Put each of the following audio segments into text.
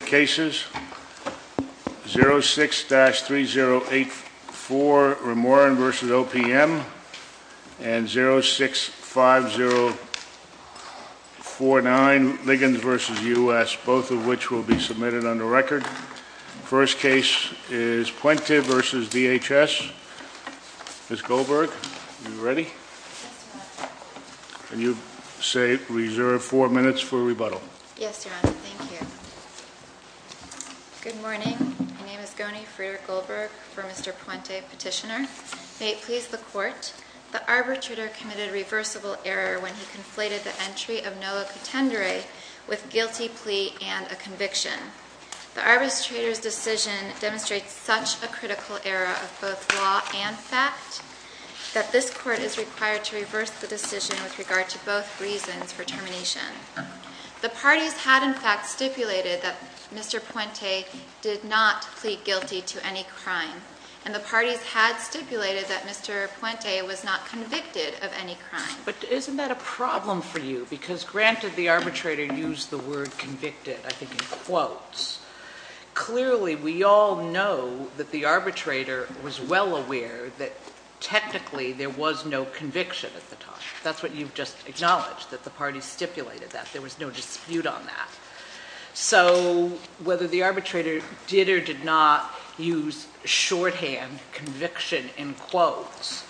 Cases 06-3084, Remoran v. OPM, and 06-5049, Liggins v. U.S., both of which will be submitted on the record. First case is Puente v. DHS. Can you say, reserve four minutes for rebuttal. Yes, Your Honor. Thank you. Good morning. My name is Goni Frieder-Goldberg for Mr. Puente Petitioner. May it please the Court, the arbitrator committed reversible error when he conflated the entry of NOAA contendere with guilty plea and a conviction. The arbitrator's decision demonstrates such a critical error of both law and fact that this Court is required to reverse the decision with regard to both reasons for termination. The parties had in fact stipulated that Mr. Puente did not plead guilty to any crime, and the parties had stipulated that Mr. Puente was not convicted of any crime. But isn't that a problem for you? Because granted the arbitrator used the word convicted, I think, in quotes. Clearly, we all know that the arbitrator was well aware that technically there was no conviction at the time. That's what you've just acknowledged, that the parties stipulated that. There was no dispute on that. So whether the arbitrator did or did not use shorthand conviction in quotes,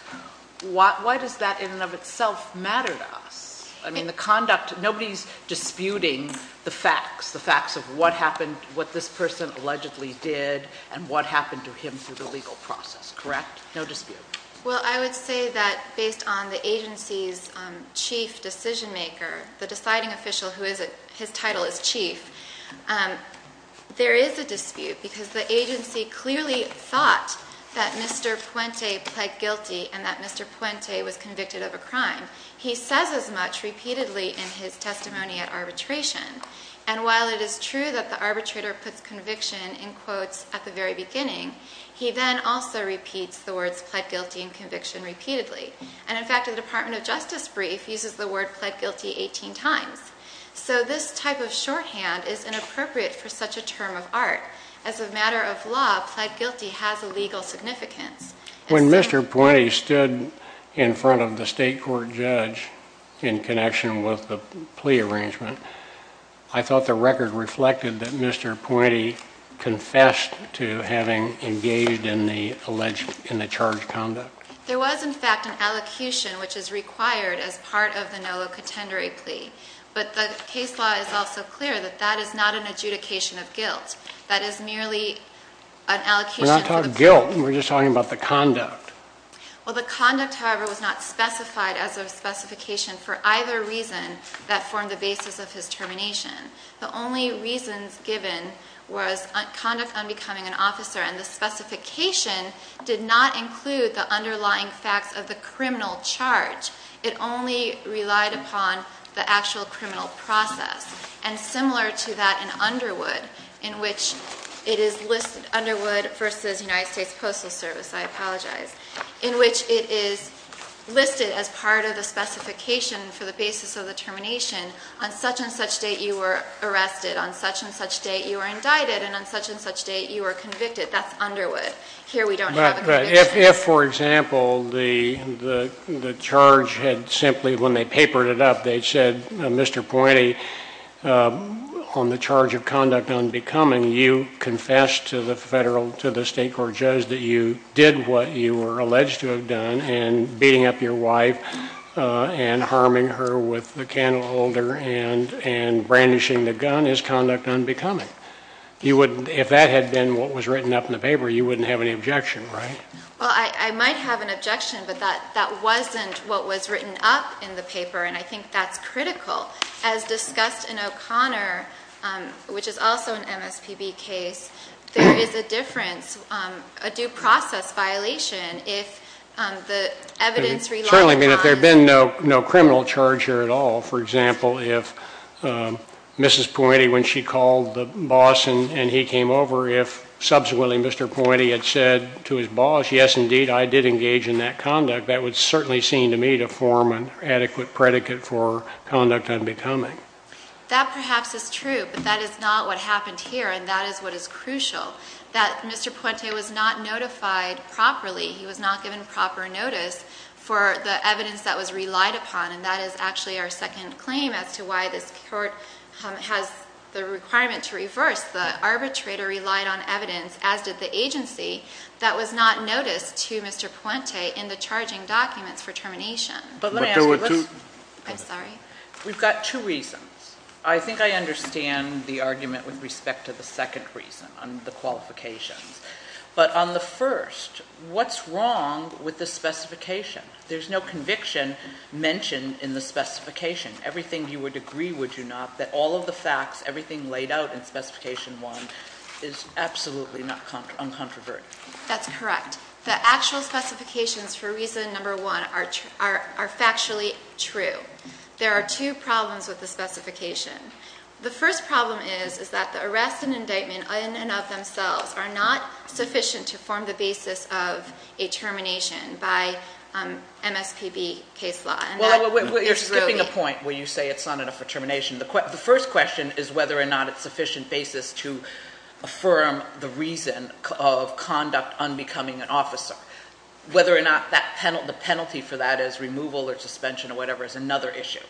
why does that in and of itself matter to us? I mean, the conduct, nobody's disputing the facts, the facts of what happened, what this person allegedly did, and what happened to him through the legal process, correct? No dispute. Well, I would say that based on the agency's chief decision-maker, the deciding official whose title is chief, there is a dispute because the agency clearly thought that Mr. Puente pled guilty and that Mr. Puente was convicted of a crime. He says as much repeatedly in his testimony at arbitration. And while it is true that the arbitrator puts conviction in quotes at the very beginning, he then also repeats the words pled guilty and conviction repeatedly. And in fact, the Department of Justice brief uses the word pled guilty 18 times. So this type of shorthand is inappropriate for such a term of art. As a matter of law, pled guilty has a legal significance. When Mr. Puente stood in front of the state court judge in connection with the plea arrangement, I thought the record reflected that Mr. Puente confessed to having engaged in the alleged, in the charged conduct. There was, in fact, an allocution which is required as part of the Nolo contendere plea. But the case law is also clear that that is not an adjudication of guilt. That is merely an allocation. We're not talking guilt. We're just talking about the conduct. Well, the conduct, however, was not specified as a specification for either reason that formed the basis of his termination. The only reasons given was conduct unbecoming an officer, and the specification did not include the underlying facts of the criminal charge. It only relied upon the actual criminal process. And similar to that in Underwood, in which it is listed, Underwood versus United States Postal Service, I apologize, in which it is listed as part of the specification for the basis of the termination. On such and such date, you were arrested. On such and such date, you were indicted. And on such and such date, you were convicted. That's Underwood. Here we don't have a conviction. If, for example, the charge had simply, when they papered it up, they'd said, Mr. Pointy, on the charge of conduct unbecoming, you confessed to the federal, to the state court judge that you did what you were alleged to have done, and beating up your wife and harming her with a candle holder and brandishing the gun is conduct unbecoming. If that had been what was written up in the paper, you wouldn't have any objection, right? Well, I might have an objection, but that wasn't what was written up in the paper, and I think that's critical. As discussed in O'Connor, which is also an MSPB case, there is a difference, a due process violation if the evidence relied upon that there had been no criminal charge here at all. For example, if Mrs. Pointy, when she called the boss and he came over, if subsequently Mr. Pointy had said to his boss, yes, indeed, I did engage in that conduct, that would certainly seem to me to form an adequate predicate for conduct unbecoming. That perhaps is true, but that is not what happened here, and that is what is crucial. That Mr. Pointy was not notified properly, he was not given proper notice for the evidence that was relied upon, and that is actually our second claim as to why this court has the requirement to reverse. The arbitrator relied on evidence, as did the agency, that was not noticed to Mr. Pointy in the charging documents for termination. But there were two... I'm sorry? We've got two reasons. I think I understand the argument with respect to the second reason on the qualifications. But on the first, what's wrong with the specification? There's no conviction mentioned in the specification. Everything you would agree, would you not, that all of the facts, everything laid out in Specification 1 is absolutely uncontroverted. That's correct. The actual specifications for reason number one are factually true. There are two problems with the specification. The first problem is that the arrest and indictment in and of themselves are not sufficient to form the basis of a termination by MSPB case law. Well, you're skipping a point where you say it's not enough for termination. The first question is whether or not it's sufficient basis to affirm the reason of conduct unbecoming an officer, whether or not the penalty for that is removal or suspension or whatever is another issue.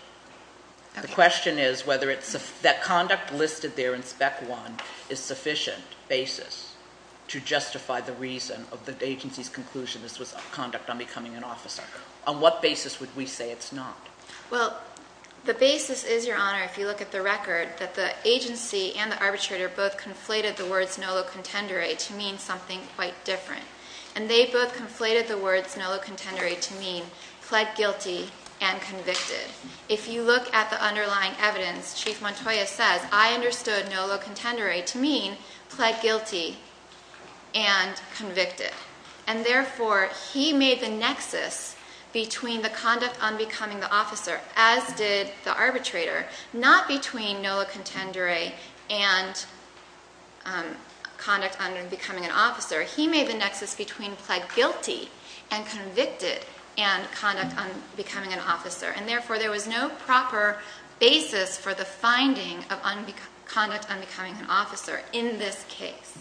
The question is whether that conduct listed there in Spec 1 is sufficient basis to justify the reason of the agency's conclusion this was conduct unbecoming an officer. On what basis would we say it's not? Well, the basis is, Your Honor, if you look at the record, that the agency and the arbitrator both conflated the words nolo contendere to mean something quite different. And they both conflated the words nolo contendere to mean pled guilty and convicted. If you look at the underlying evidence, Chief Montoya says, I understood nolo contendere to mean pled guilty and convicted. And, therefore, he made the nexus between the conduct unbecoming the officer, as did the arbitrator, not between nolo contendere and conduct unbecoming an officer. He made the nexus between pled guilty and convicted and conduct unbecoming an officer. And, therefore, there was no proper basis for the finding of conduct unbecoming an officer in this case.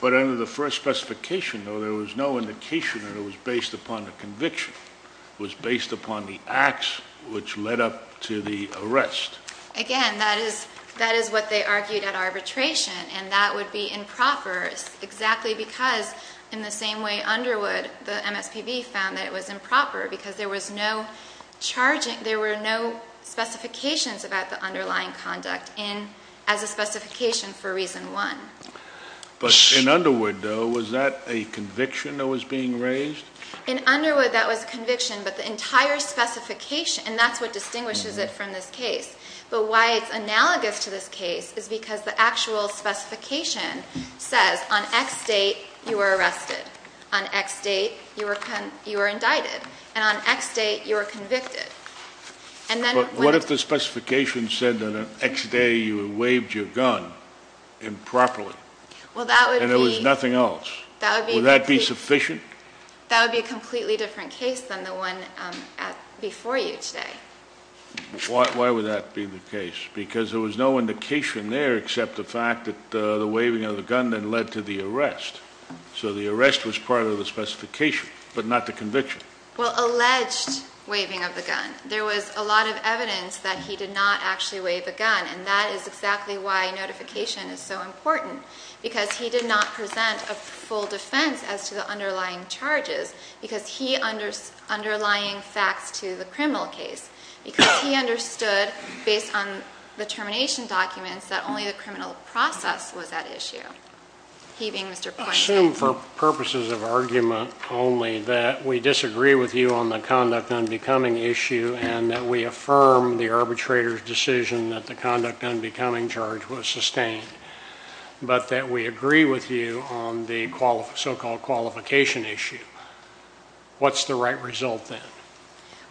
But under the first specification, though, there was no indication that it was based upon a conviction. It was based upon the acts which led up to the arrest. Again, that is what they argued at arbitration. And that would be improper exactly because in the same way Underwood, the MSPB, found that it was improper because there was no charging, there were no specifications about the underlying conduct as a specification for reason one. But in Underwood, though, was that a conviction that was being raised? In Underwood, that was a conviction, but the entire specification, and that's what distinguishes it from this case. But why it's analogous to this case is because the actual specification says on X date, you were arrested. On X date, you were indicted. And on X date, you were convicted. And then when... But what if the specification said that on X day, you waived your gun improperly? Well, that would be... And there was nothing else. That would be... Would that be sufficient? That would be a completely different case than the one before you today. Why would that be the case? Because there was no indication there except the fact that the waiving of the gun then led to the arrest. So the arrest was part of the specification, but not the conviction. Well, alleged waiving of the gun. There was a lot of evidence that he did not actually waive a gun. And that is exactly why notification is so important. Because he did not present a full defense as to the underlying charges. Because he... Underlying facts to the criminal case. Because he understood, based on the termination documents, that only the criminal process was at issue. He being Mr. Poindexter. I assume for purposes of argument only that we disagree with you on the conduct unbecoming issue and that we affirm the arbitrator's decision that the conduct unbecoming charge was sustained. But that we agree with you on the so-called qualification issue. What's the right result then?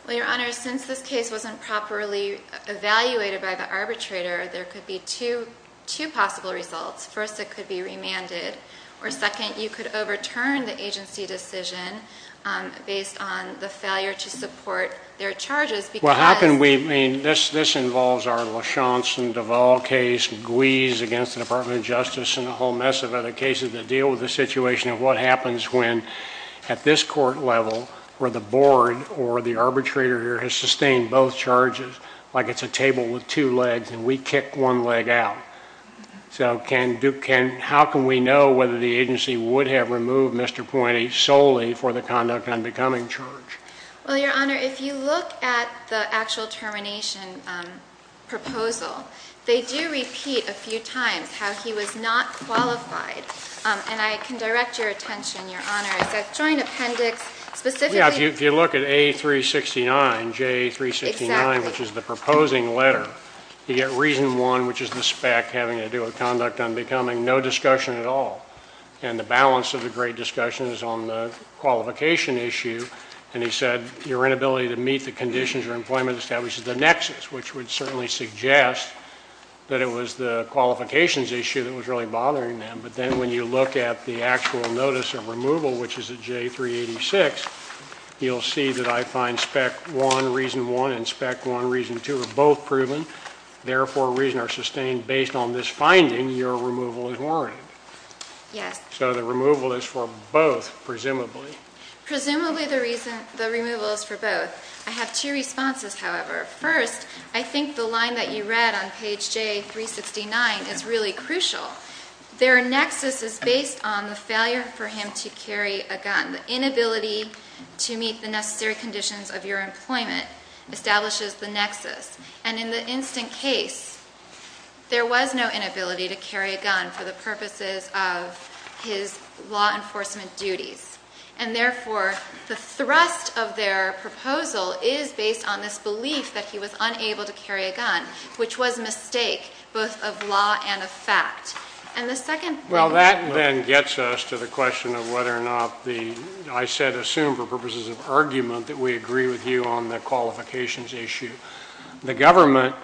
Well, Your Honor, since this case wasn't properly evaluated by the arbitrator, there could be two possible results. First, it could be remanded. Or second, you could overturn the agency decision based on the failure to support their charges because... Well, how can we... I mean, this involves our LaChanze and Duvall case, Guiz against the Department of Justice and a whole mess of other cases that deal with the situation of what happens when, at this court level, where the board or the arbitrator has sustained both charges like it's a table with two legs and we kick one leg out. So how can we know whether the agency would have removed Mr. Poindexter solely for the conduct unbecoming charge? Well, Your Honor, if you look at the actual termination proposal, they do repeat a few times how he was not qualified. And I can direct your attention, Your Honor, that joint appendix specifically... Yeah, if you look at A369, J369, which is the proposing letter, you get reason one, which is the spec having to do with conduct unbecoming, no discussion at all. And the balance of the great discussion is on the qualification issue. And he said your inability to meet the conditions or employment establishes the nexus, which would certainly suggest that it was the qualifications issue that was really bothering them. But then when you look at the actual notice of removal, which is at J386, you'll see that I find spec one, reason one, and spec one, reason two, are both proven, therefore reason are sustained based on this finding your removal is warranted. Yes. So the removal is for both, presumably. Presumably the removal is for both. I have two responses, however. First, I think the line that you read on page J369 is really crucial. Their nexus is based on the failure for him to carry a gun. The inability to meet the necessary conditions of your employment establishes the nexus. And in the instant case, there was no inability to carry a gun for the purposes of his law enforcement duties. And therefore, the thrust of their proposal is based on this belief that he was unable to carry a gun, which was a mistake, both of law and of fact. Well, that then gets us to the question of whether or not I said assume for purposes of argument that we agree with you on the qualifications issue. The government,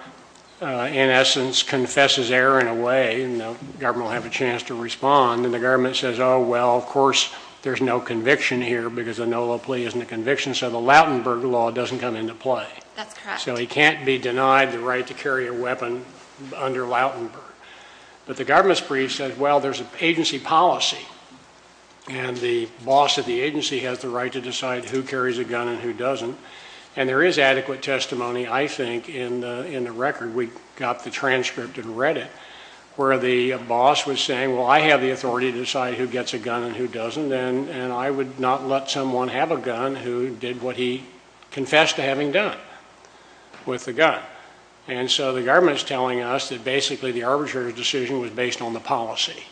in essence, confesses error in a way, and the government will have a chance to respond. And the government says, oh, well, of course there's no conviction here because the NOLA plea isn't a conviction, so the Lautenberg Law doesn't come into play. That's correct. So he can't be denied the right to carry a weapon under Lautenberg. But the government's brief says, well, there's an agency policy, and the boss of the agency has the right to decide who carries a gun and who doesn't. And there is adequate testimony, I think, in the record. We got the transcript and read it where the boss was saying, well, I have the authority to decide who gets a gun and who doesn't, and I would not let someone have a gun who did what he confessed to having done with the gun. And so the government is telling us that basically the arbitrator's decision was based on the policy,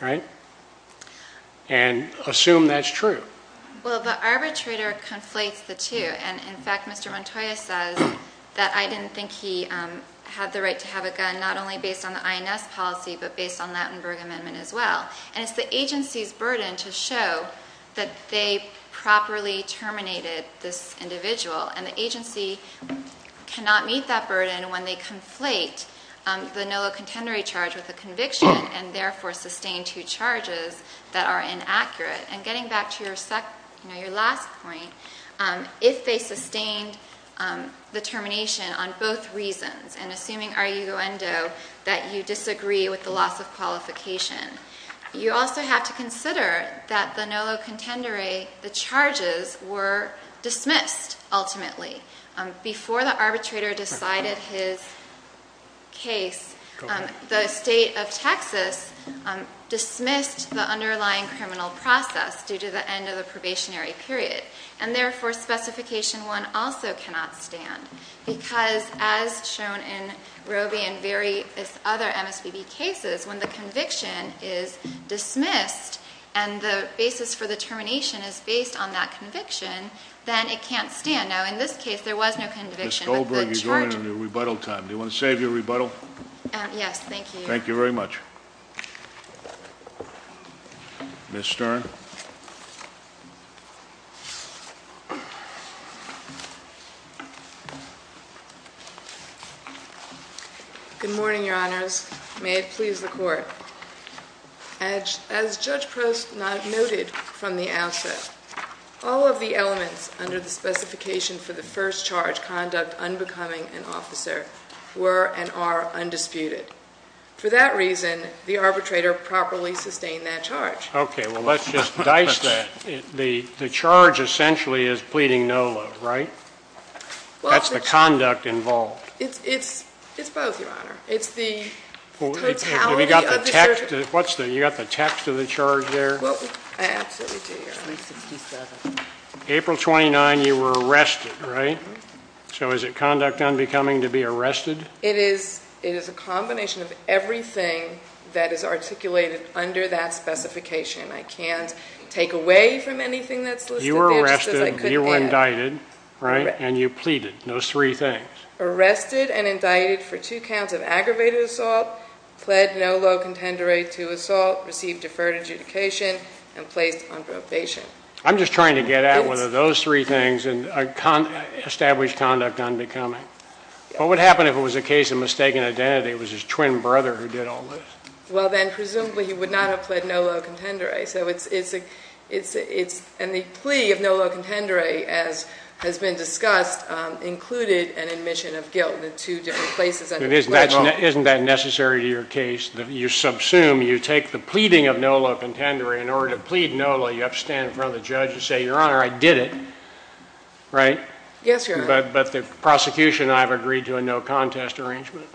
right, and assume that's true. Well, the arbitrator conflates the two. And, in fact, Mr. Montoya says that I didn't think he had the right to have a gun, not only based on the INS policy but based on the Lautenberg Amendment as well. And it's the agency's burden to show that they properly terminated this individual. And the agency cannot meet that burden when they conflate the NOLA contendory charge with a conviction and therefore sustain two charges that are inaccurate. And getting back to your last point, if they sustained the termination on both reasons and assuming, arguendo, that you disagree with the loss of qualification, you also have to consider that the NOLA contendory, the charges were dismissed ultimately. Before the arbitrator decided his case, the state of Texas dismissed the underlying criminal process due to the end of the probationary period, and therefore Specification 1 also cannot stand because, as shown in Roby and various other MSPB cases, when the conviction is dismissed and the basis for the termination is based on that conviction, then it can't stand. Now, in this case, there was no conviction, but the charge... Ms. Goldberg, you're going into rebuttal time. Do you want to save your rebuttal? Yes, thank you. Thank you very much. Ms. Stern. Good morning, Your Honors. May it please the Court. As Judge Prost noted from the outset, all of the elements under the specification for the first charge, conduct unbecoming an officer, were and are undisputed. For that reason, the arbitrator properly sustained that charge. Okay, well, let's just dice that. The charge essentially is pleading NOLA, right? That's the conduct involved. It's both, Your Honor. It's the totality of the charge. You got the text of the charge there? I absolutely do, Your Honor. April 29, you were arrested, right? So is it conduct unbecoming to be arrested? It is a combination of everything that is articulated under that specification. I can't take away from anything that's listed. You were arrested, you were indicted, right? And you pleaded, those three things. Arrested and indicted for two counts of aggravated assault, pled NOLA contendere to assault, received deferred adjudication, and placed on probation. I'm just trying to get at whether those three things establish conduct unbecoming. What would happen if it was a case of mistaken identity? It was his twin brother who did all this. Well, then presumably he would not have pled NOLA contendere. And the plea of NOLA contendere, as has been discussed, included an admission of guilt in two different places. Isn't that necessary to your case? You subsume, you take the pleading of NOLA contendere. In order to plead NOLA, you have to stand in front of the judge and say, Your Honor, I did it, right? Yes, Your Honor. But the prosecution and I have agreed to a no contest arrangement.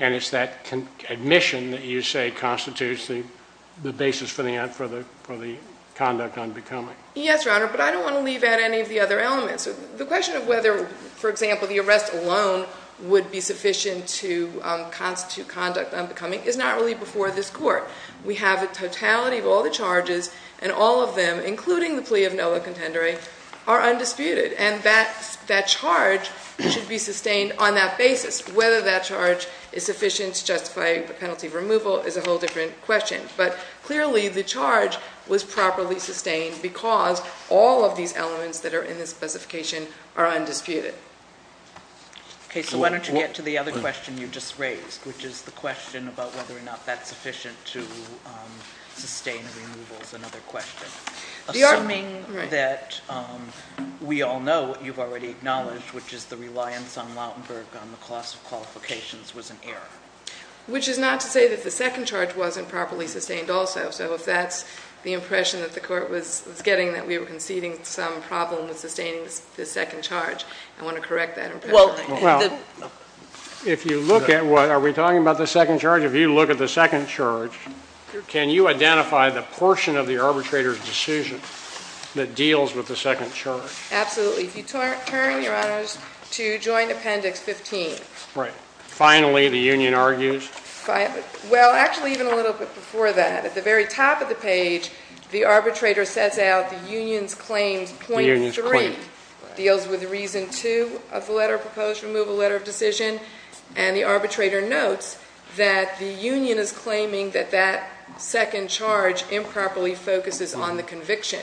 And it's that admission that you say constitutes the basis for the conduct unbecoming. Yes, Your Honor, but I don't want to leave out any of the other elements. The question of whether, for example, the arrest alone would be sufficient to constitute conduct unbecoming is not really before this court. We have a totality of all the charges, and all of them, including the plea of NOLA contendere, are undisputed. And that charge should be sustained on that basis. Whether that charge is sufficient to justify a penalty of removal is a whole different question. But clearly, the charge was properly sustained because all of these elements that are in the specification are undisputed. Okay, so why don't you get to the other question you just raised, which is the question about whether or not that's sufficient to sustain a removal is another question. Assuming that we all know what you've already acknowledged, which is the reliance on Lautenberg on the cost of qualifications was an error. Which is not to say that the second charge wasn't properly sustained also. So if that's the impression that the court was getting that we were conceding some problem with sustaining the second charge, I want to correct that impression. Well, if you look at what, are we talking about the second charge? If you look at the second charge, can you identify the portion of the arbitrator's decision that deals with the second charge? Absolutely. If you turn, Your Honors, to Joint Appendix 15. Right. Finally, the union argues. Well, actually, even a little bit before that. At the very top of the page, the arbitrator sets out the union's claims, point three. The union's claim. Deals with reason two of the letter of proposed removal, letter of decision. And the arbitrator notes that the union is claiming that that second charge improperly focuses on the conviction.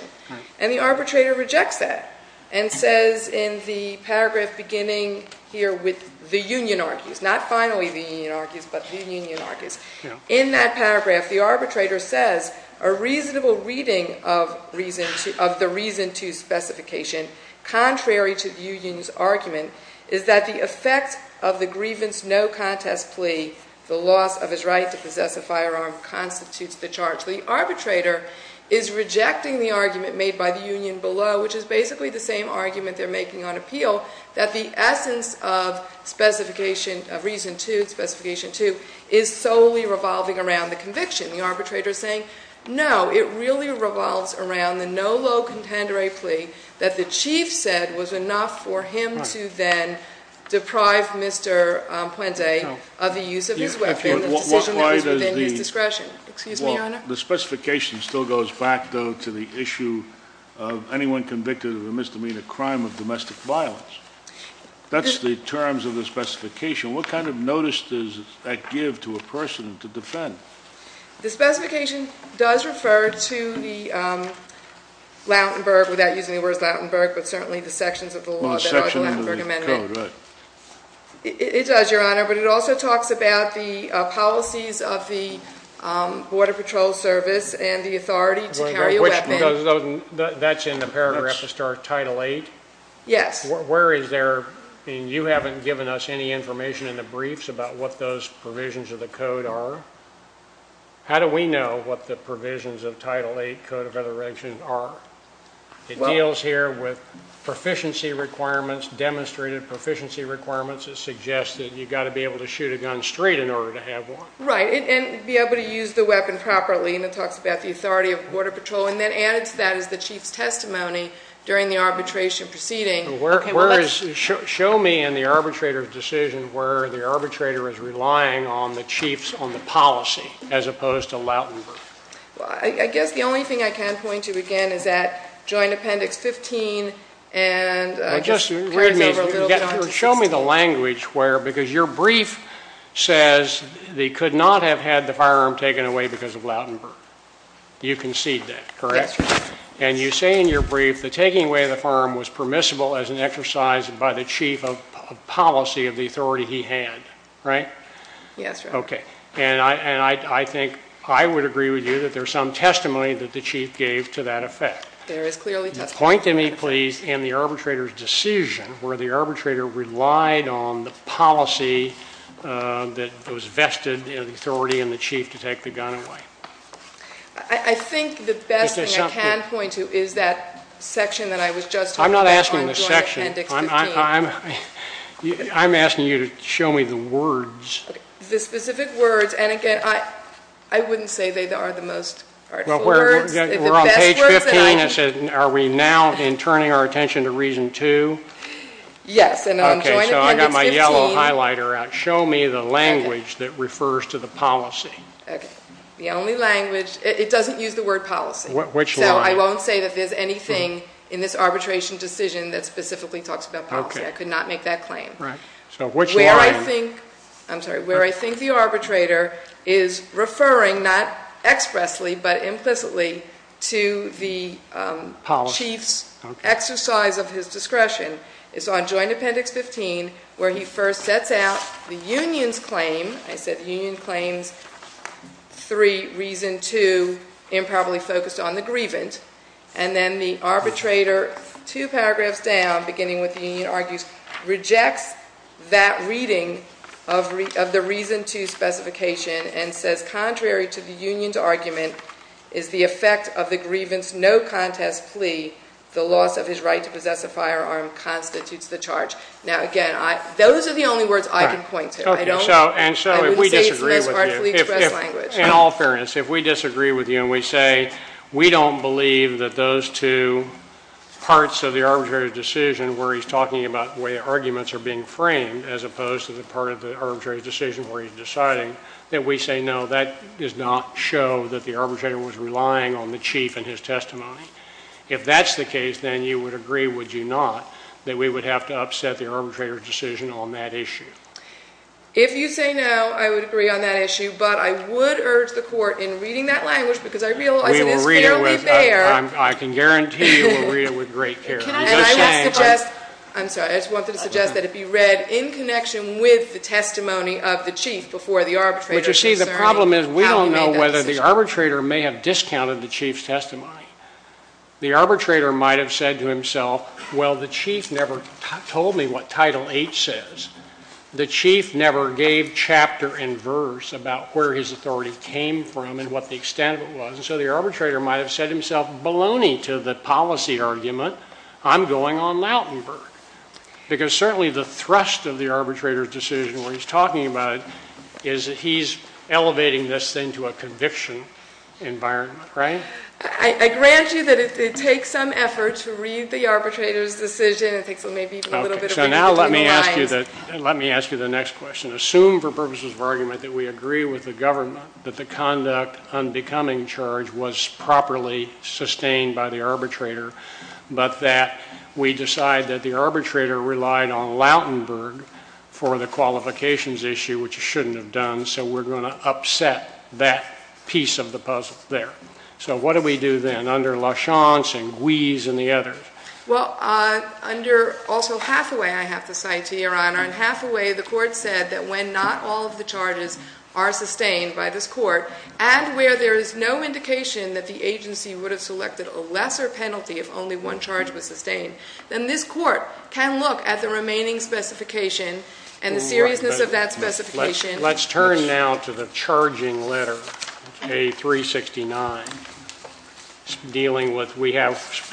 And the arbitrator rejects that. And says in the paragraph beginning here with the union argues. Not finally the union argues, but the union argues. In that paragraph, the arbitrator says a reasonable reading of the reason two specification, contrary to the union's argument, is that the effect of the grievance no contest plea, the loss of his right to possess a firearm, constitutes the charge. The arbitrator is rejecting the argument made by the union below, which is basically the same argument they're making on appeal. That the essence of reason two, specification two, is solely revolving around the conviction. The arbitrator is saying, no, it really revolves around the no low contender plea that the chief said was enough for him to then deprive Mr. Puente of the use of his weapon. The specification still goes back, though, to the issue of anyone convicted of a misdemeanor crime of domestic violence. That's the terms of the specification. What kind of notice does that give to a person to defend? The specification does refer to the Lautenberg, without using the words Lautenberg, but certainly the sections of the law that are the Lautenberg Amendment. It does, Your Honor. But it also talks about the policies of the Border Patrol Service and the authority to carry a weapon. That's in the paragraph that starts Title VIII? Yes. Where is there, and you haven't given us any information in the briefs about what those provisions of the code are. How do we know what the provisions of Title VIII Code of Regulations are? It deals here with proficiency requirements, demonstrated proficiency requirements that suggest that you've got to be able to shoot a gun straight in order to have one. Right. And be able to use the weapon properly. And it talks about the authority of Border Patrol. And then added to that is the chief's testimony during the arbitration proceeding. Show me in the arbitrator's decision where the arbitrator is relying on the chief's, on the policy, as opposed to Lautenberg. Well, I guess the only thing I can point to, again, is that Joint Appendix 15. Show me the language where, because your brief says they could not have had the firearm taken away because of Lautenberg. You concede that, correct? Yes, Your Honor. And you say in your brief the taking away of the firearm was permissible as an exercise by the chief of policy of the authority he had, right? Yes, Your Honor. Okay. And I think I would agree with you that there's some testimony that the chief gave to that effect. There is clearly testimony. Point to me, please, in the arbitrator's decision where the arbitrator relied on the policy that was vested in the authority and the chief to take the gun away. I think the best thing I can point to is that section that I was just talking about on Joint Appendix 15. I'm not asking the section. I'm asking you to show me the words. The specific words. And, again, I wouldn't say they are the most artful words. We're on page 15. Are we now in turning our attention to reason two? Yes. Okay. So I got my yellow highlighter out. Show me the language that refers to the policy. Okay. The only language, it doesn't use the word policy. Which one? So I won't say that there's anything in this arbitration decision that specifically talks about policy. I could not make that claim. Right. So which one? Where I think the arbitrator is referring not expressly but implicitly to the chief's exercise of his discretion. It's on Joint Appendix 15 where he first sets out the union's claim. I said the union claims three, reason two, improbably focused on the grievance. And then the arbitrator, two paragraphs down, beginning with the union argues, rejects that reading of the reason two specification and says, contrary to the union's argument, is the effect of the grievance no contest plea, the loss of his right to possess a firearm constitutes the charge. Now, again, those are the only words I can point to. Okay. So if we disagree with you, in all fairness, if we disagree with you and we say we don't believe that those two parts of the arbitrator's decision where he's talking about where arguments are being framed as opposed to the part of the arbitrator's decision where he's deciding, that we say no, that does not show that the arbitrator was relying on the chief and his testimony. If that's the case, then you would agree, would you not, that we would have to upset the arbitrator's decision on that issue? If you say no, I would agree on that issue, but I would urge the court in reading that language because I realize it is fairly bare. I can guarantee you we'll read it with great care. I just wanted to suggest that it be read in connection with the testimony of the chief before the arbitrator. But you see, the problem is we don't know whether the arbitrator may have discounted the chief's testimony. The arbitrator might have said to himself, well, the chief never told me what Title VIII says. The chief never gave chapter and verse about where his authority came from and what the extent of it was. And so the arbitrator might have said to himself, baloney to the policy argument, I'm going on Lautenberg. Because certainly the thrust of the arbitrator's decision where he's talking about it is that he's elevating this thing to a conviction environment, right? So I grant you that it takes some effort to read the arbitrator's decision. It takes maybe a little bit of reading between the lines. Okay, so now let me ask you the next question. Assume for purposes of argument that we agree with the government that the conduct on becoming charged was properly sustained by the arbitrator, but that we decide that the arbitrator relied on Lautenberg for the qualifications issue, which he shouldn't have done, so we're going to upset that piece of the puzzle there. So what do we do then under LaChance and Guise and the others? Well, under also Hathaway I have to cite to you, Your Honor. In Hathaway the court said that when not all of the charges are sustained by this court and where there is no indication that the agency would have selected a lesser penalty if only one charge was sustained, then this court can look at the remaining specification and the seriousness of that specification. Let's turn now to the charging letter, A369, dealing with we have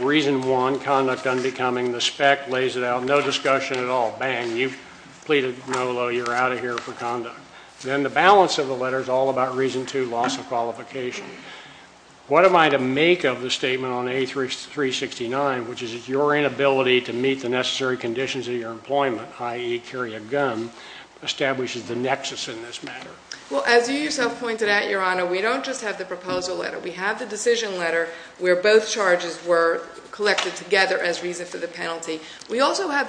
reason one, conduct on becoming, the spec lays it out, no discussion at all. Bang, you've pleaded no, you're out of here for conduct. Then the balance of the letter is all about reason two, loss of qualification. What am I to make of the statement on A369, which is your inability to meet the necessary conditions of your employment, i.e., carry a gun, establishes the nexus in this matter? Well, as you yourself pointed out, Your Honor, we don't just have the proposal letter. We have the decision letter where both charges were collected together as reason for the penalty. We also have the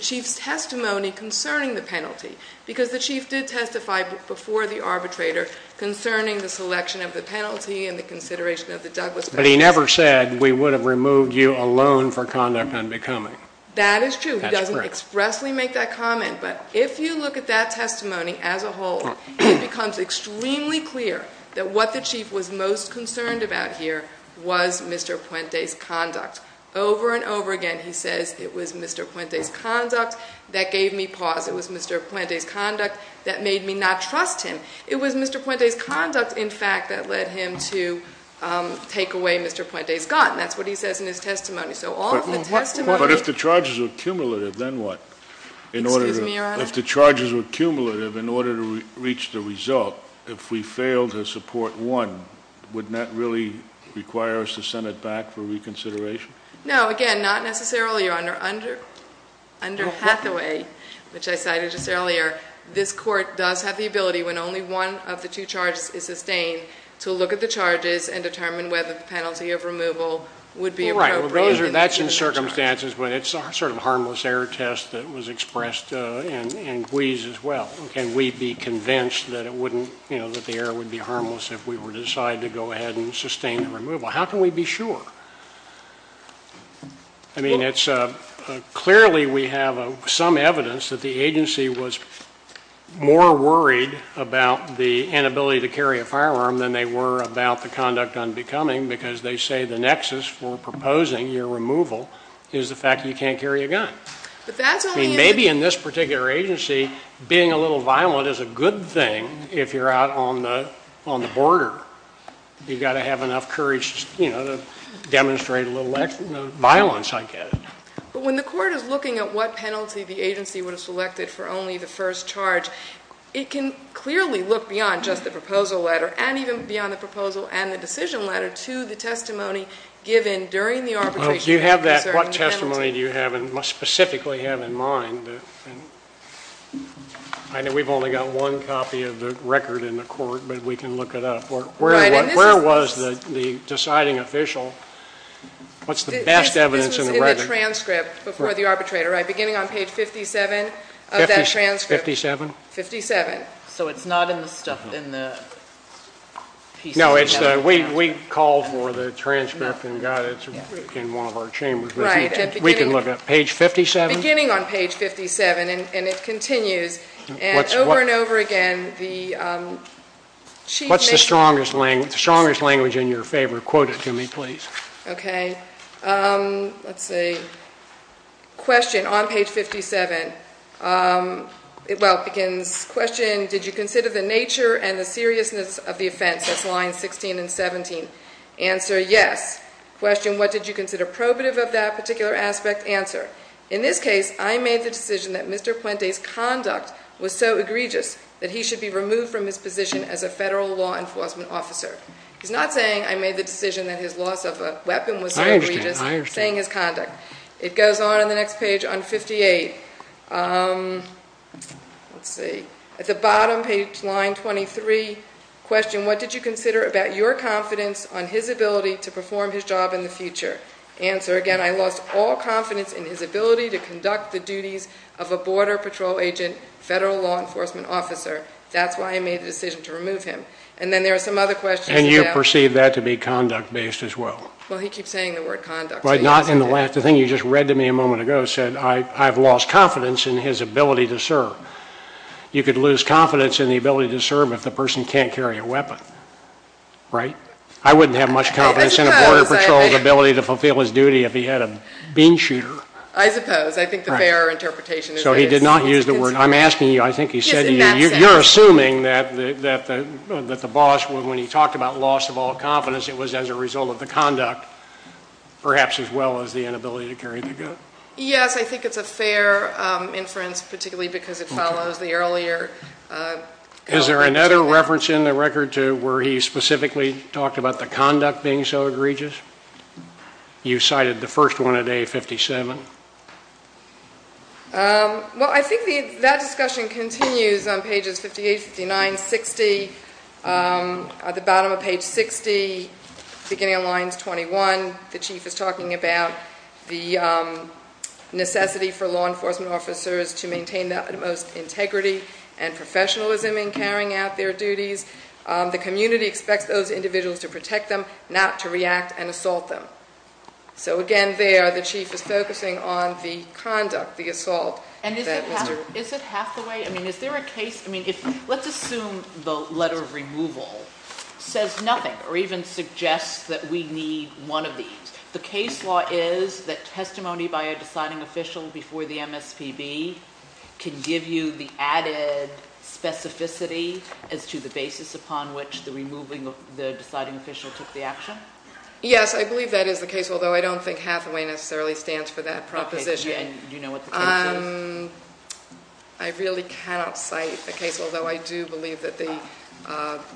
chief's testimony concerning the penalty because the chief did testify before the arbitrator concerning the selection of the penalty and the consideration of the Douglas penalty. But he never said we would have removed you alone for conduct on becoming. That is true. He doesn't expressly make that comment. But if you look at that testimony as a whole, it becomes extremely clear that what the chief was most concerned about here was Mr. Puente's conduct. Over and over again he says it was Mr. Puente's conduct that gave me pause. It was Mr. Puente's conduct that made me not trust him. It was Mr. Puente's conduct, in fact, that led him to take away Mr. Puente's gun. That's what he says in his testimony. But if the charges were cumulative, then what? Excuse me, Your Honor. If the charges were cumulative in order to reach the result, if we fail to support one, wouldn't that really require us to send it back for reconsideration? No, again, not necessarily, Your Honor. Under Hathaway, which I cited just earlier, this court does have the ability when only one of the two charges is sustained to look at the charges and determine whether the penalty of removal would be appropriate. Well, that's in circumstances, but it's sort of a harmless error test that was expressed in Guise as well. Can we be convinced that it wouldn't, you know, that the error would be harmless if we were to decide to go ahead and sustain the removal? How can we be sure? I mean, it's clearly we have some evidence that the agency was more worried about the inability to carry a firearm than they were about the conduct unbecoming, because they say the nexus for proposing your removal is the fact that you can't carry a gun. I mean, maybe in this particular agency being a little violent is a good thing if you're out on the border. You've got to have enough courage, you know, to demonstrate a little violence, I get it. But when the court is looking at what penalty the agency would have selected for only the first charge, it can clearly look beyond just the proposal letter and even beyond the proposal and the decision letter to the testimony given during the arbitration. Do you have that? What testimony do you have and specifically have in mind? I know we've only got one copy of the record in the court, but we can look it up. Where was the deciding official? What's the best evidence in the record? This was in the transcript before the arbitrator, right, beginning on page 57 of that transcript. Fifty-seven. Fifty-seven. So it's not in the stuff, in the pieces. No, we called for the transcript and got it in one of our chambers. Right. We can look at page 57. Beginning on page 57, and it continues. And over and over again, the chief mentioned. What's the strongest language in your favor? Quote it to me, please. Okay. Let's see. Question on page 57. Well, it begins, question, did you consider the nature and the seriousness of the offense? That's lines 16 and 17. Answer, yes. Question, what did you consider probative of that particular aspect? Answer, in this case, I made the decision that Mr. Puente's conduct was so egregious that he should be removed from his position as a federal law enforcement officer. He's not saying I made the decision that his loss of a weapon was so egregious. I understand. Saying his conduct. It goes on in the next page on 58. Let's see. At the bottom, page line 23, question, what did you consider about your confidence on his ability to perform his job in the future? Answer, again, I lost all confidence in his ability to conduct the duties of a border patrol agent, federal law enforcement officer. That's why I made the decision to remove him. And then there are some other questions. And you perceive that to be conduct-based as well. Well, he keeps saying the word conduct. The thing you just read to me a moment ago said I've lost confidence in his ability to serve. You could lose confidence in the ability to serve if the person can't carry a weapon. Right? I wouldn't have much confidence in a border patrol's ability to fulfill his duty if he had a bean shooter. I suppose. I think the fairer interpretation is this. So he did not use the word. I'm asking you. I think he said to you. You're assuming that the boss, when he talked about loss of all confidence, it was as a result of the conduct. Perhaps as well as the inability to carry the gun. Yes, I think it's a fair inference, particularly because it follows the earlier. Is there another reference in the record to where he specifically talked about the conduct being so egregious? You cited the first one at A57. Thank you, Mr. Chairman. Well, I think that discussion continues on pages 58, 59, 60. At the bottom of page 60, beginning of lines 21, the chief is talking about the necessity for law enforcement officers to maintain the utmost integrity and professionalism in carrying out their duties. The community expects those individuals to protect them, not to react and assault them. So again there, the chief is focusing on the conduct, the assault. And is it halfway? I mean, is there a case? I mean, let's assume the letter of removal says nothing or even suggests that we need one of these. The case law is that testimony by a deciding official before the MSPB can give you the added specificity as to the basis upon which the removing of the deciding official took the action? Yes, I believe that is the case, although I don't think halfway necessarily stands for that proposition. Do you know what the case is? I really cannot cite the case, although I do believe that the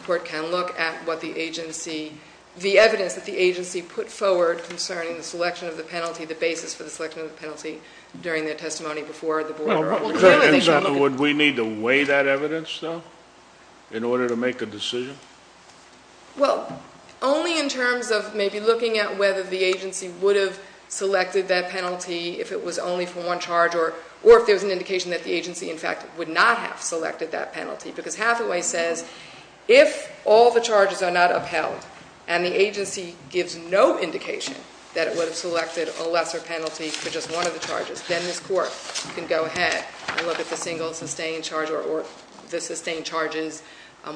court can look at what the agency, the evidence that the agency put forward concerning the selection of the penalty, the basis for the selection of the penalty during their testimony before the board. In other words, we need to weigh that evidence, though, in order to make a decision? Well, only in terms of maybe looking at whether the agency would have selected that penalty if it was only for one charge or if there was an indication that the agency, in fact, would not have selected that penalty because halfway says if all the charges are not upheld and the agency gives no indication that it would have selected a lesser penalty for just one of the charges, then this court can go ahead and look at the single sustained charge or the sustained charges,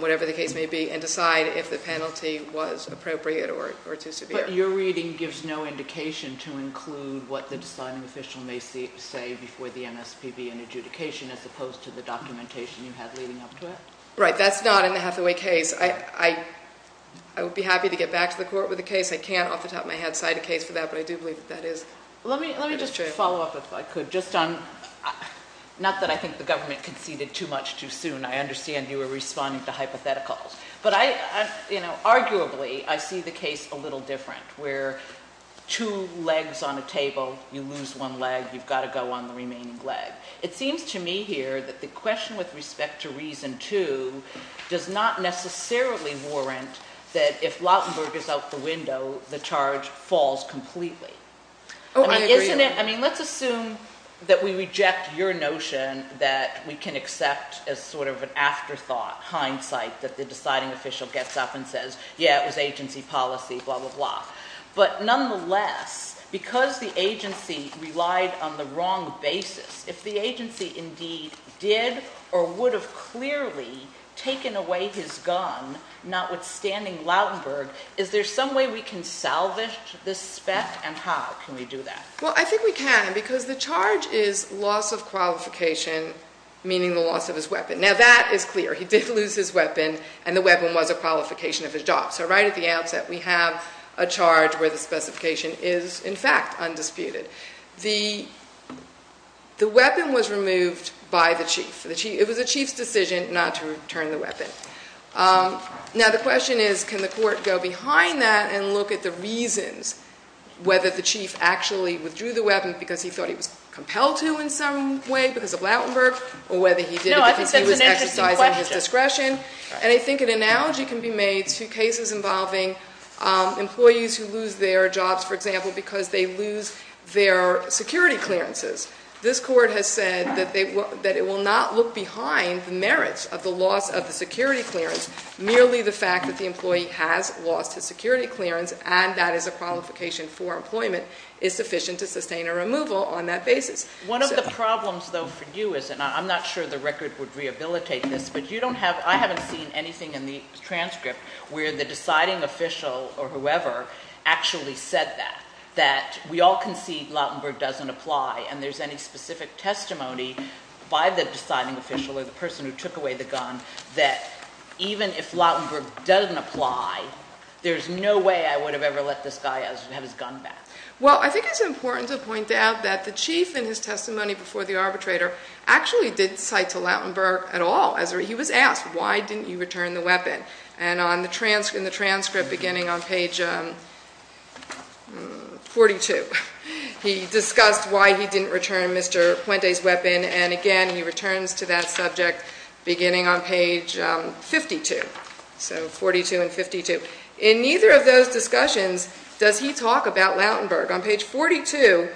whatever the case may be, and decide if the penalty was appropriate or too severe. But your reading gives no indication to include what the deciding official may say before the MSPB in adjudication as opposed to the documentation you had leading up to it? Right. That's not in the Hathaway case. I would be happy to get back to the court with the case. I can't off the top of my head cite a case for that, but I do believe that that is true. Let me just follow up, if I could, just on not that I think the government conceded too much too soon. I understand you were responding to hypotheticals, but arguably I see the case a little different where two legs on a table, you lose one leg, you've got to go on the remaining leg. It seems to me here that the question with respect to reason two does not necessarily warrant that if Lautenberg is out the window, the charge falls completely. Let's assume that we reject your notion that we can accept as sort of an afterthought, hindsight, that the deciding official gets up and says, yeah, it was agency policy, blah, blah, blah. But nonetheless, because the agency relied on the wrong basis, if the agency indeed did or would have clearly taken away his gun, notwithstanding Lautenberg, is there some way we can salvage this spec, and how can we do that? Well, I think we can, because the charge is loss of qualification, meaning the loss of his weapon. Now, that is clear. He did lose his weapon, and the weapon was a qualification of his job. So right at the outset, we have a charge where the specification is, in fact, undisputed. The weapon was removed by the chief. It was the chief's decision not to return the weapon. Now, the question is, can the court go behind that and look at the reasons whether the chief actually withdrew the weapon because he thought he was compelled to in some way because of Lautenberg, or whether he did it because he was exercising his discretion. And I think an analogy can be made to cases involving employees who lose their jobs, for example, because they lose their security clearances. This court has said that it will not look behind the merits of the loss of the security clearance. Merely the fact that the employee has lost his security clearance, and that is a qualification for employment, is sufficient to sustain a removal on that basis. One of the problems, though, for you is, and I'm not sure the record would rehabilitate this, but I haven't seen anything in the transcript where the deciding official or whoever actually said that, we all concede Lautenberg doesn't apply, and there's any specific testimony by the deciding official or the person who took away the gun that even if Lautenberg doesn't apply, there's no way I would have ever let this guy have his gun back. Well, I think it's important to point out that the chief in his testimony before the arbitrator actually didn't cite to Lautenberg at all. He was asked, why didn't you return the weapon? And in the transcript beginning on page 42, he discussed why he didn't return Mr. Puente's weapon, and again he returns to that subject beginning on page 52, so 42 and 52. In neither of those discussions does he talk about Lautenberg. On page 42,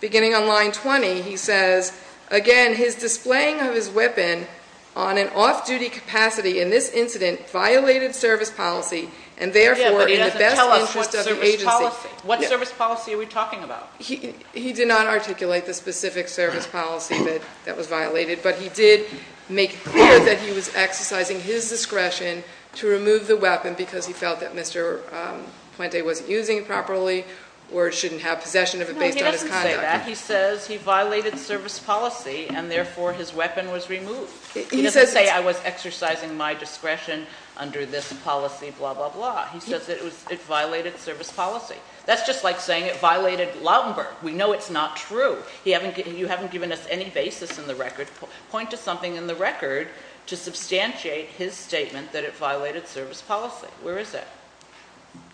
beginning on line 20, he says, again, and his displaying of his weapon on an off-duty capacity in this incident violated service policy, and therefore in the best interest of the agency. Yeah, but he doesn't tell us what service policy. What service policy are we talking about? He did not articulate the specific service policy that was violated, but he did make clear that he was exercising his discretion to remove the weapon because he felt that Mr. Puente wasn't using it properly or shouldn't have possession of it based on his conduct. He says he violated service policy and therefore his weapon was removed. He doesn't say I was exercising my discretion under this policy, blah, blah, blah. He says it violated service policy. That's just like saying it violated Lautenberg. We know it's not true. You haven't given us any basis in the record. Point to something in the record to substantiate his statement that it violated service policy. Where is it?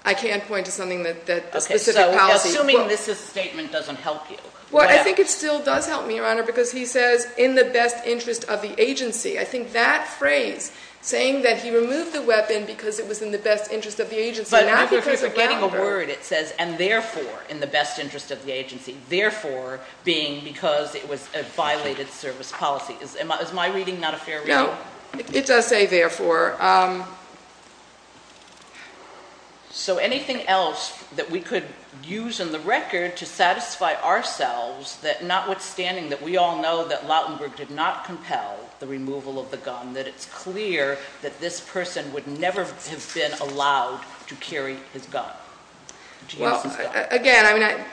I can't point to something that the specific policy... So assuming this statement doesn't help you. Well, I think it still does help me, Your Honor, because he says in the best interest of the agency. I think that phrase, saying that he removed the weapon because it was in the best interest of the agency... But if you're writing a word, it says and therefore in the best interest of the agency, therefore being because it was a violated service policy. Is my reading not a fair reading? No, it does say therefore. So anything else that we could use in the record to satisfy ourselves, notwithstanding that we all know that Lautenberg did not compel the removal of the gun, that it's clear that this person would never have been allowed to carry his gun? Again,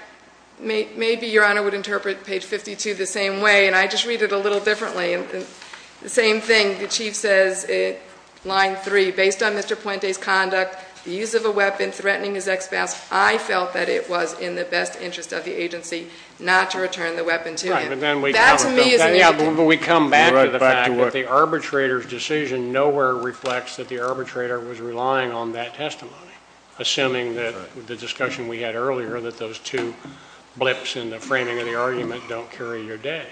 maybe Your Honor would interpret page 52 the same way, and I just read it a little differently. The same thing, the Chief says in line three, based on Mr. Puente's conduct, the use of a weapon threatening his expanse, I felt that it was in the best interest of the agency not to return the weapon to him. That to me is an issue. We come back to the fact that the arbitrator's decision nowhere reflects that the arbitrator was relying on that testimony, assuming that the discussion we had earlier that those two blips in the framing of the argument don't carry your day.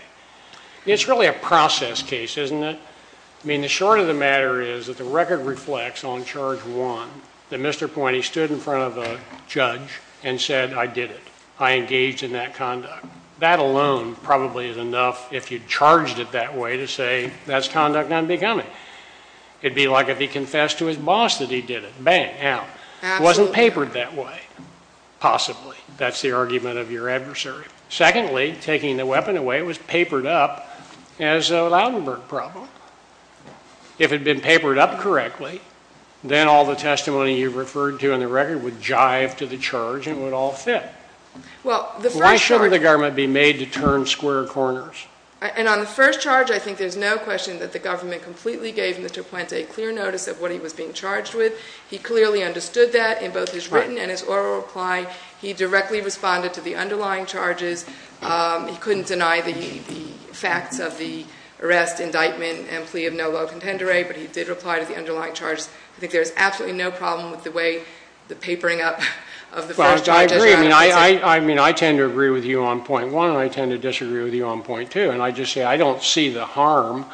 It's really a process case, isn't it? I mean, the short of the matter is that the record reflects on charge one that Mr. Puente stood in front of a judge and said, I did it. I engaged in that conduct. That alone probably is enough if you charged it that way to say that's conduct unbecoming. It would be like if he confessed to his boss that he did it, bang, out. It wasn't papered that way, possibly. That's the argument of your adversary. Secondly, taking the weapon away was papered up as a Lautenberg problem. If it had been papered up correctly, then all the testimony you referred to in the record would jive to the charge and would all fit. Why shouldn't the government be made to turn square corners? And on the first charge, I think there's no question that the government completely gave Mr. Puente clear notice of what he was being charged with. He clearly understood that in both his written and his oral reply. He directly responded to the underlying charges. He couldn't deny the facts of the arrest, indictment, and plea of no low contender. But he did reply to the underlying charges. I think there's absolutely no problem with the way the papering up of the first charge is done. Well, I agree. I mean, I tend to agree with you on point one, and I tend to disagree with you on point two. And I just say I don't see the harm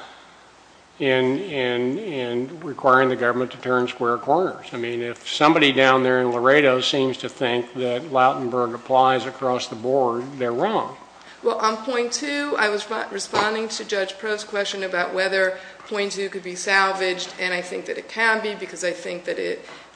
in requiring the government to turn square corners. I mean, if somebody down there in Laredo seems to think that Lautenberg applies across the board, they're wrong. Well, on point two, I was responding to Judge Proulx's question about whether point two could be salvaged. And I think that it can be because I think that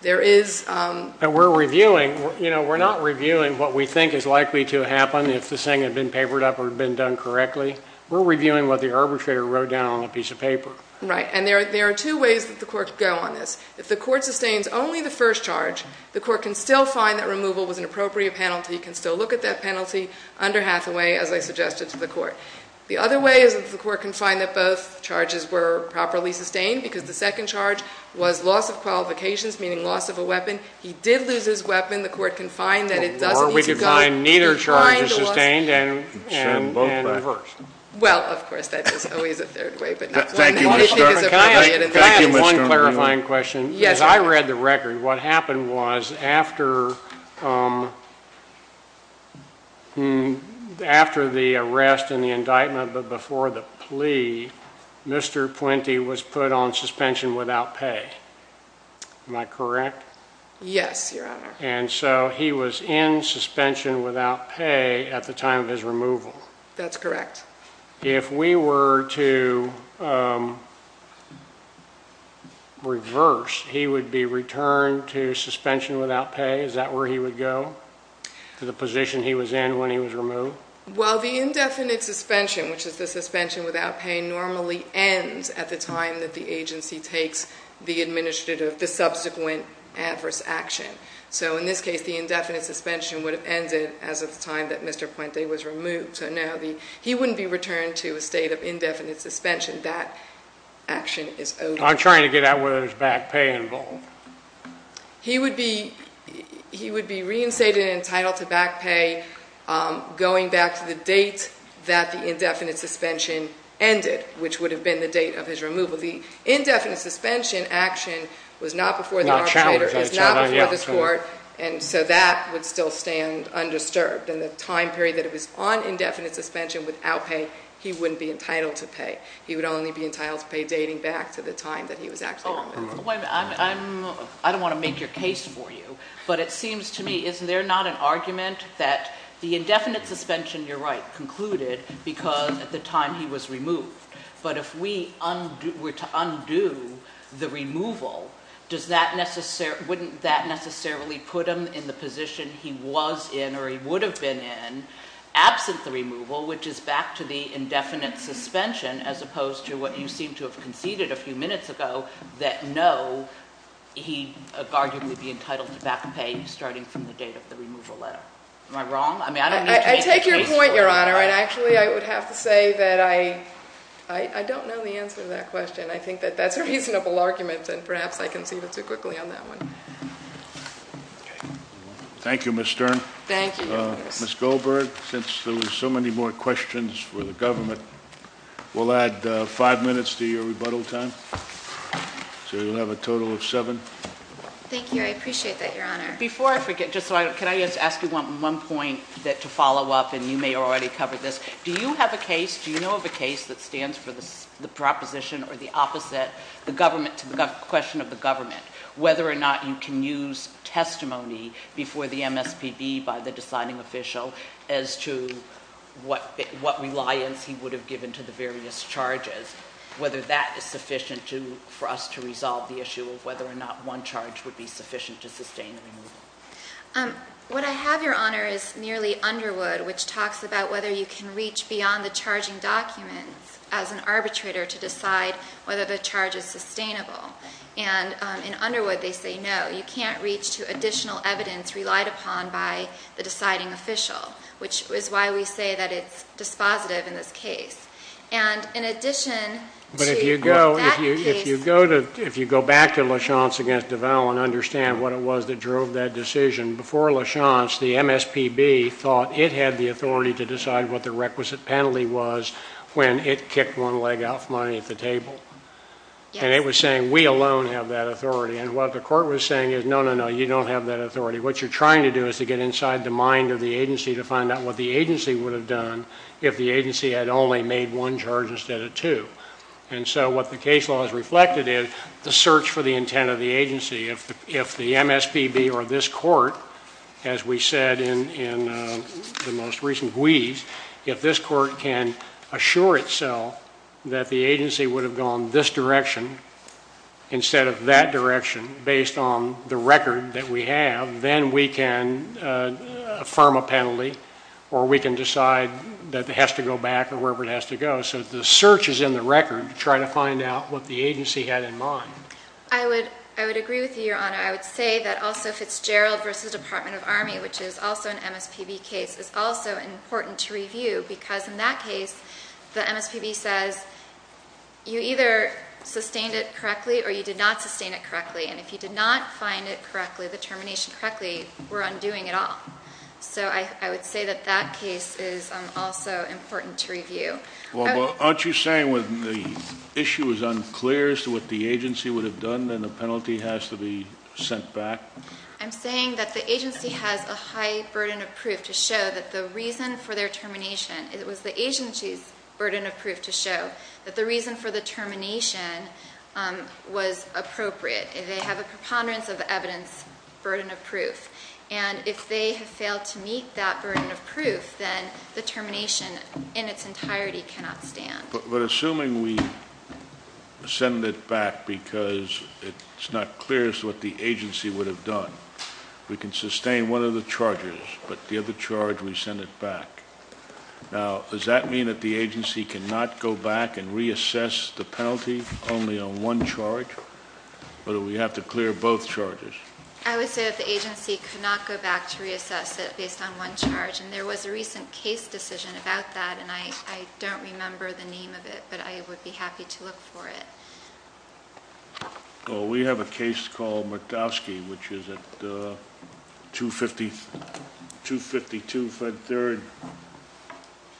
there is. And we're reviewing. You know, we're not reviewing what we think is likely to happen if this thing had been papered up or had been done correctly. We're reviewing what the arbitrator wrote down on a piece of paper. Right. And there are two ways that the court could go on this. If the court sustains only the first charge, the court can still find that removal was an appropriate penalty, can still look at that penalty under Hathaway, as I suggested to the court. The other way is that the court can find that both charges were properly sustained, because the second charge was loss of qualifications, meaning loss of a weapon. He did lose his weapon. The court can find that it does need to go. Or we could find neither charge is sustained and reversed. Well, of course, that is always a third way, but not one that we think is appropriate. Can I add one clarifying question? Yes. As I read the record, what happened was after the arrest and the indictment, but before the plea, Mr. Puente was put on suspension without pay. Am I correct? Yes, Your Honor. And so he was in suspension without pay at the time of his removal. That's correct. If we were to reverse, he would be returned to suspension without pay? Is that where he would go, to the position he was in when he was removed? Well, the indefinite suspension, which is the suspension without pay, normally ends at the time that the agency takes the subsequent adverse action. So in this case, the indefinite suspension would have ended as of the time that Mr. Puente was removed. So, no, he wouldn't be returned to a state of indefinite suspension. That action is over. I'm trying to get at whether there's back pay involved. He would be reinstated and entitled to back pay going back to the date that the indefinite suspension ended, which would have been the date of his removal. The indefinite suspension action was not before the arbitrator. It's not before the court, and so that would still stand undisturbed. In the time period that it was on indefinite suspension without pay, he wouldn't be entitled to pay. He would only be entitled to pay dating back to the time that he was actually removed. I don't want to make your case for you, but it seems to me, is there not an argument that the indefinite suspension, you're right, concluded because at the time he was removed. But if we were to undo the removal, wouldn't that necessarily put him in the position he was in, or he would have been in, absent the removal, which is back to the indefinite suspension, as opposed to what you seem to have conceded a few minutes ago, that no, he would arguably be entitled to back pay starting from the date of the removal letter. Am I wrong? I take your point, Your Honor, and actually I would have to say that I don't know the answer to that question. I think that that's a reasonable argument, and perhaps I conceded too quickly on that one. Thank you, Ms. Stern. Thank you, Your Honor. Ms. Goldberg, since there were so many more questions for the government, we'll add five minutes to your rebuttal time, so you'll have a total of seven. Thank you. I appreciate that, Your Honor. Before I forget, can I just ask you one point to follow up, and you may have already covered this. Do you have a case, do you know of a case that stands for the proposition or the opposite, the government, to the question of the government, whether or not you can use testimony before the MSPB by the deciding official as to what reliance he would have given to the various charges, whether that is sufficient for us to resolve the issue of whether or not one charge would be sufficient to sustain the removal. What I have, Your Honor, is nearly Underwood, which talks about whether you can reach beyond the charging documents as an arbitrator to decide whether the charge is sustainable. And in Underwood, they say no, you can't reach to additional evidence relied upon by the deciding official, which is why we say that it's dispositive in this case. And in addition to that case. If you go back to LaChance v. DeVal and understand what it was that drove that decision, before LaChance, the MSPB thought it had the authority to decide what the requisite penalty was when it kicked one leg out of money at the table. And it was saying, we alone have that authority. And what the court was saying is, no, no, no, you don't have that authority. What you're trying to do is to get inside the mind of the agency to find out what the agency would have done if the agency had only made one charge instead of two. And so what the case law has reflected is the search for the intent of the agency. If the MSPB or this court, as we said in the most recent wheeze, if this court can assure itself that the agency would have gone this direction instead of that direction, based on the record that we have, then we can affirm a penalty or we can decide that it has to go back or wherever it has to go. So the search is in the record to try to find out what the agency had in mind. I would agree with you, Your Honor. I would say that also Fitzgerald v. Department of Army, which is also an MSPB case, is also important to review because in that case the MSPB says you either sustained it correctly or you did not sustain it correctly. And if you did not find it correctly, the termination correctly, we're undoing it all. So I would say that that case is also important to review. Well, aren't you saying when the issue is unclear as to what the agency would have done, then the penalty has to be sent back? I'm saying that the agency has a high burden of proof to show that the reason for their termination, it was the agency's burden of proof to show that the reason for the termination was appropriate. They have a preponderance of evidence burden of proof. And if they have failed to meet that burden of proof, then the termination in its entirety cannot stand. But assuming we send it back because it's not clear as to what the agency would have done, we can sustain one of the charges, but the other charge we send it back. Now, does that mean that the agency cannot go back and reassess the penalty only on one charge, or do we have to clear both charges? I would say that the agency could not go back to reassess it based on one charge, and there was a recent case decision about that, and I don't remember the name of it, but I would be happy to look for it. Well, we have a case called Murkowski, which is at 252 Fed Third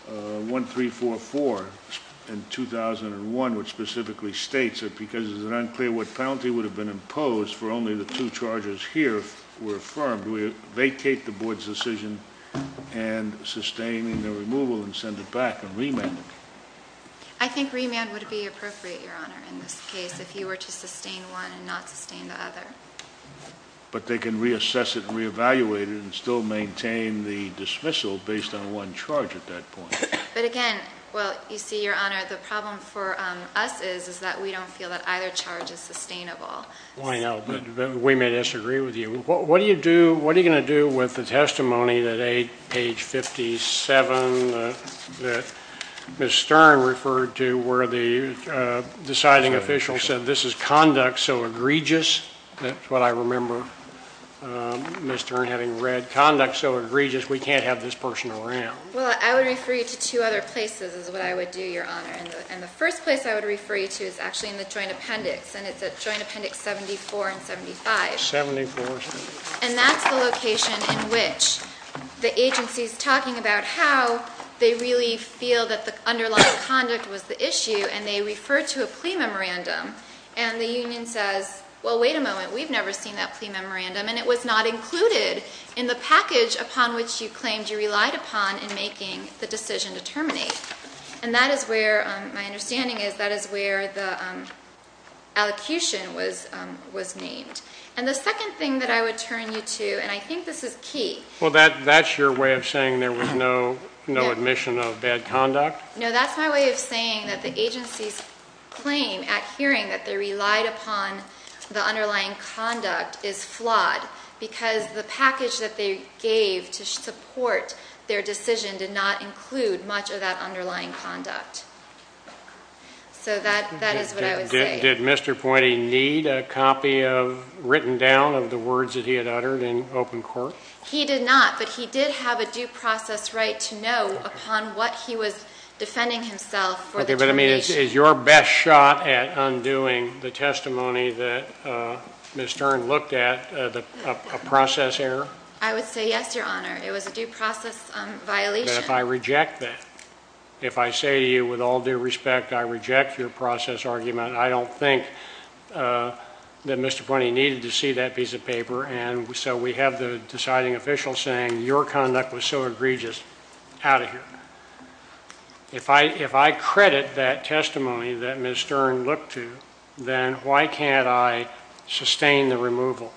1344 in 2001, which specifically states that because it's unclear what penalty would have been imposed for only the two charges here were affirmed, we vacate the board's decision and sustain the removal and send it back and remand it. I think remand would be appropriate, Your Honor, in this case, if you were to sustain one and not sustain the other. But they can reassess it and reevaluate it and still maintain the dismissal based on one charge at that point. But, again, well, you see, Your Honor, the problem for us is that we don't feel that either charge is sustainable. I know, but we may disagree with you. What are you going to do with the testimony that page 57 that Ms. Stern referred to where the deciding official said this is conduct so egregious? That's what I remember Ms. Stern having read. Conduct so egregious we can't have this person around. Well, I would refer you to two other places is what I would do, Your Honor. And the first place I would refer you to is actually in the Joint Appendix, and it's at Joint Appendix 74 and 75. 74. And that's the location in which the agency is talking about how they really feel that the underlying conduct was the issue, and they refer to a plea memorandum. And the union says, well, wait a moment, we've never seen that plea memorandum, and it was not included in the package upon which you claimed you relied upon in making the decision to terminate. And that is where my understanding is that is where the allocution was named. And the second thing that I would turn you to, and I think this is key. Well, that's your way of saying there was no admission of bad conduct? No, that's my way of saying that the agency's claim at hearing that they relied upon the underlying conduct is flawed because the package that they gave to support their decision did not include much of that underlying conduct. So that is what I would say. Did Mr. Pointy need a copy written down of the words that he had uttered in open court? He did not, but he did have a due process right to know upon what he was defending himself for the termination. But, I mean, is your best shot at undoing the testimony that Ms. Stern looked at a process error? I would say yes, Your Honor. It was a due process violation. But if I reject that, if I say to you with all due respect I reject your process argument, I don't think that Mr. Pointy needed to see that piece of paper. And so we have the deciding official saying your conduct was so egregious, out of here. If I credit that testimony that Ms. Stern looked to, then why can't I sustain the removal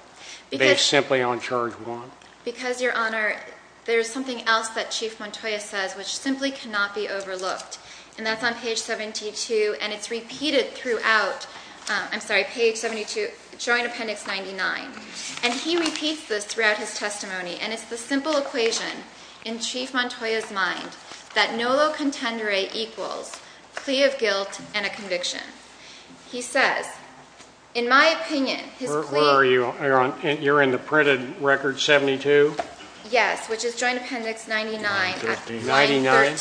based simply on charge one? Because, Your Honor, there's something else that Chief Montoya says which simply cannot be overlooked, and that's on page 72, and it's repeated throughout, I'm sorry, page 72, Joint Appendix 99. And he repeats this throughout his testimony, and it's the simple equation in Chief Montoya's mind that nolo contendere equals plea of guilt and a conviction. He says, in my opinion, his plea. Where are you? You're in the printed record 72? Yes, which is Joint Appendix 99, line 13.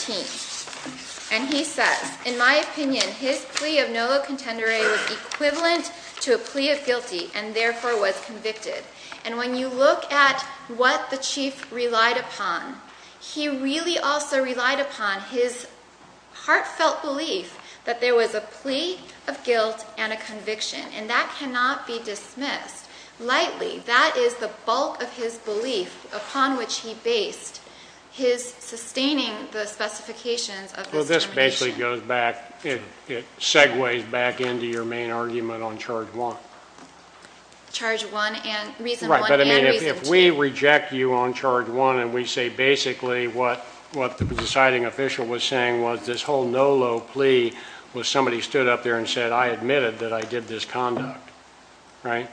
And he says, in my opinion, his plea of nolo contendere was equivalent to a plea of guilty and therefore was convicted. And when you look at what the Chief relied upon, he really also relied upon his heartfelt belief that there was a plea of guilt and a conviction, and that cannot be dismissed lightly. That is the bulk of his belief upon which he based his sustaining the specifications of this information. Well, this basically goes back, it segues back into your main argument on charge one. Charge one and reason one and reason two. Right, but I mean, if we reject you on charge one and we say basically what the deciding official was saying was this whole nolo plea was somebody stood up there and said, I admitted that I did this conduct, right?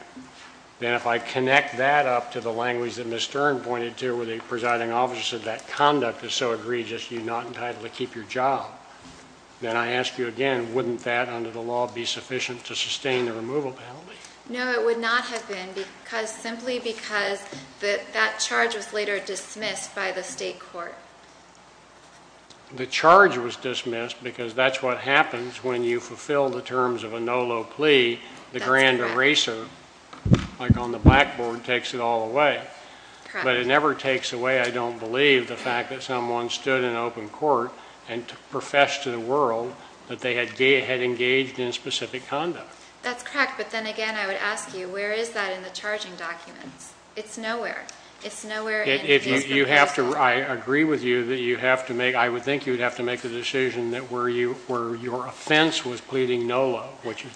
Then if I connect that up to the language that Ms. Stern pointed to where the presiding officer said that conduct is so egregious you're not entitled to keep your job, then I ask you again, wouldn't that under the law be sufficient to sustain the removal penalty? No, it would not have been because simply because that charge was later dismissed by the state court. The charge was dismissed because that's what happens when you fulfill the terms of a nolo plea, the grand eraser, like on the blackboard, takes it all away. But it never takes away, I don't believe, the fact that someone stood in open court and professed to the world that they had engaged in specific conduct. That's correct, but then again I would ask you, where is that in the charging documents? It's nowhere. It's nowhere in the case proposal. I agree with you that you have to make, I would think you would have to make the decision that where your offense was pleading nolo, which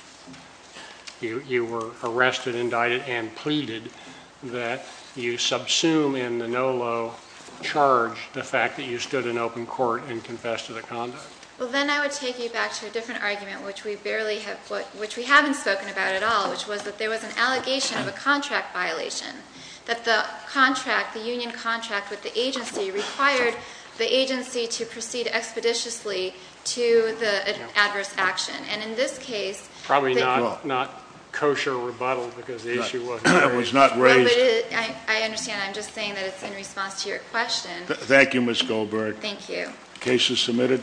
you were arrested, indicted, and pleaded, that you subsume in the nolo charge the fact that you stood in open court and confessed to the conduct. Well, then I would take you back to a different argument, which we haven't spoken about at all, which was that there was an allegation of a contract violation, that the union contract with the agency required the agency to proceed expeditiously to the adverse action. And in this case, Probably not kosher rebuttal because the issue wasn't raised. It was not raised. No, but I understand. I'm just saying that it's in response to your question. Thank you, Ms. Goldberg. Thank you. The case is submitted.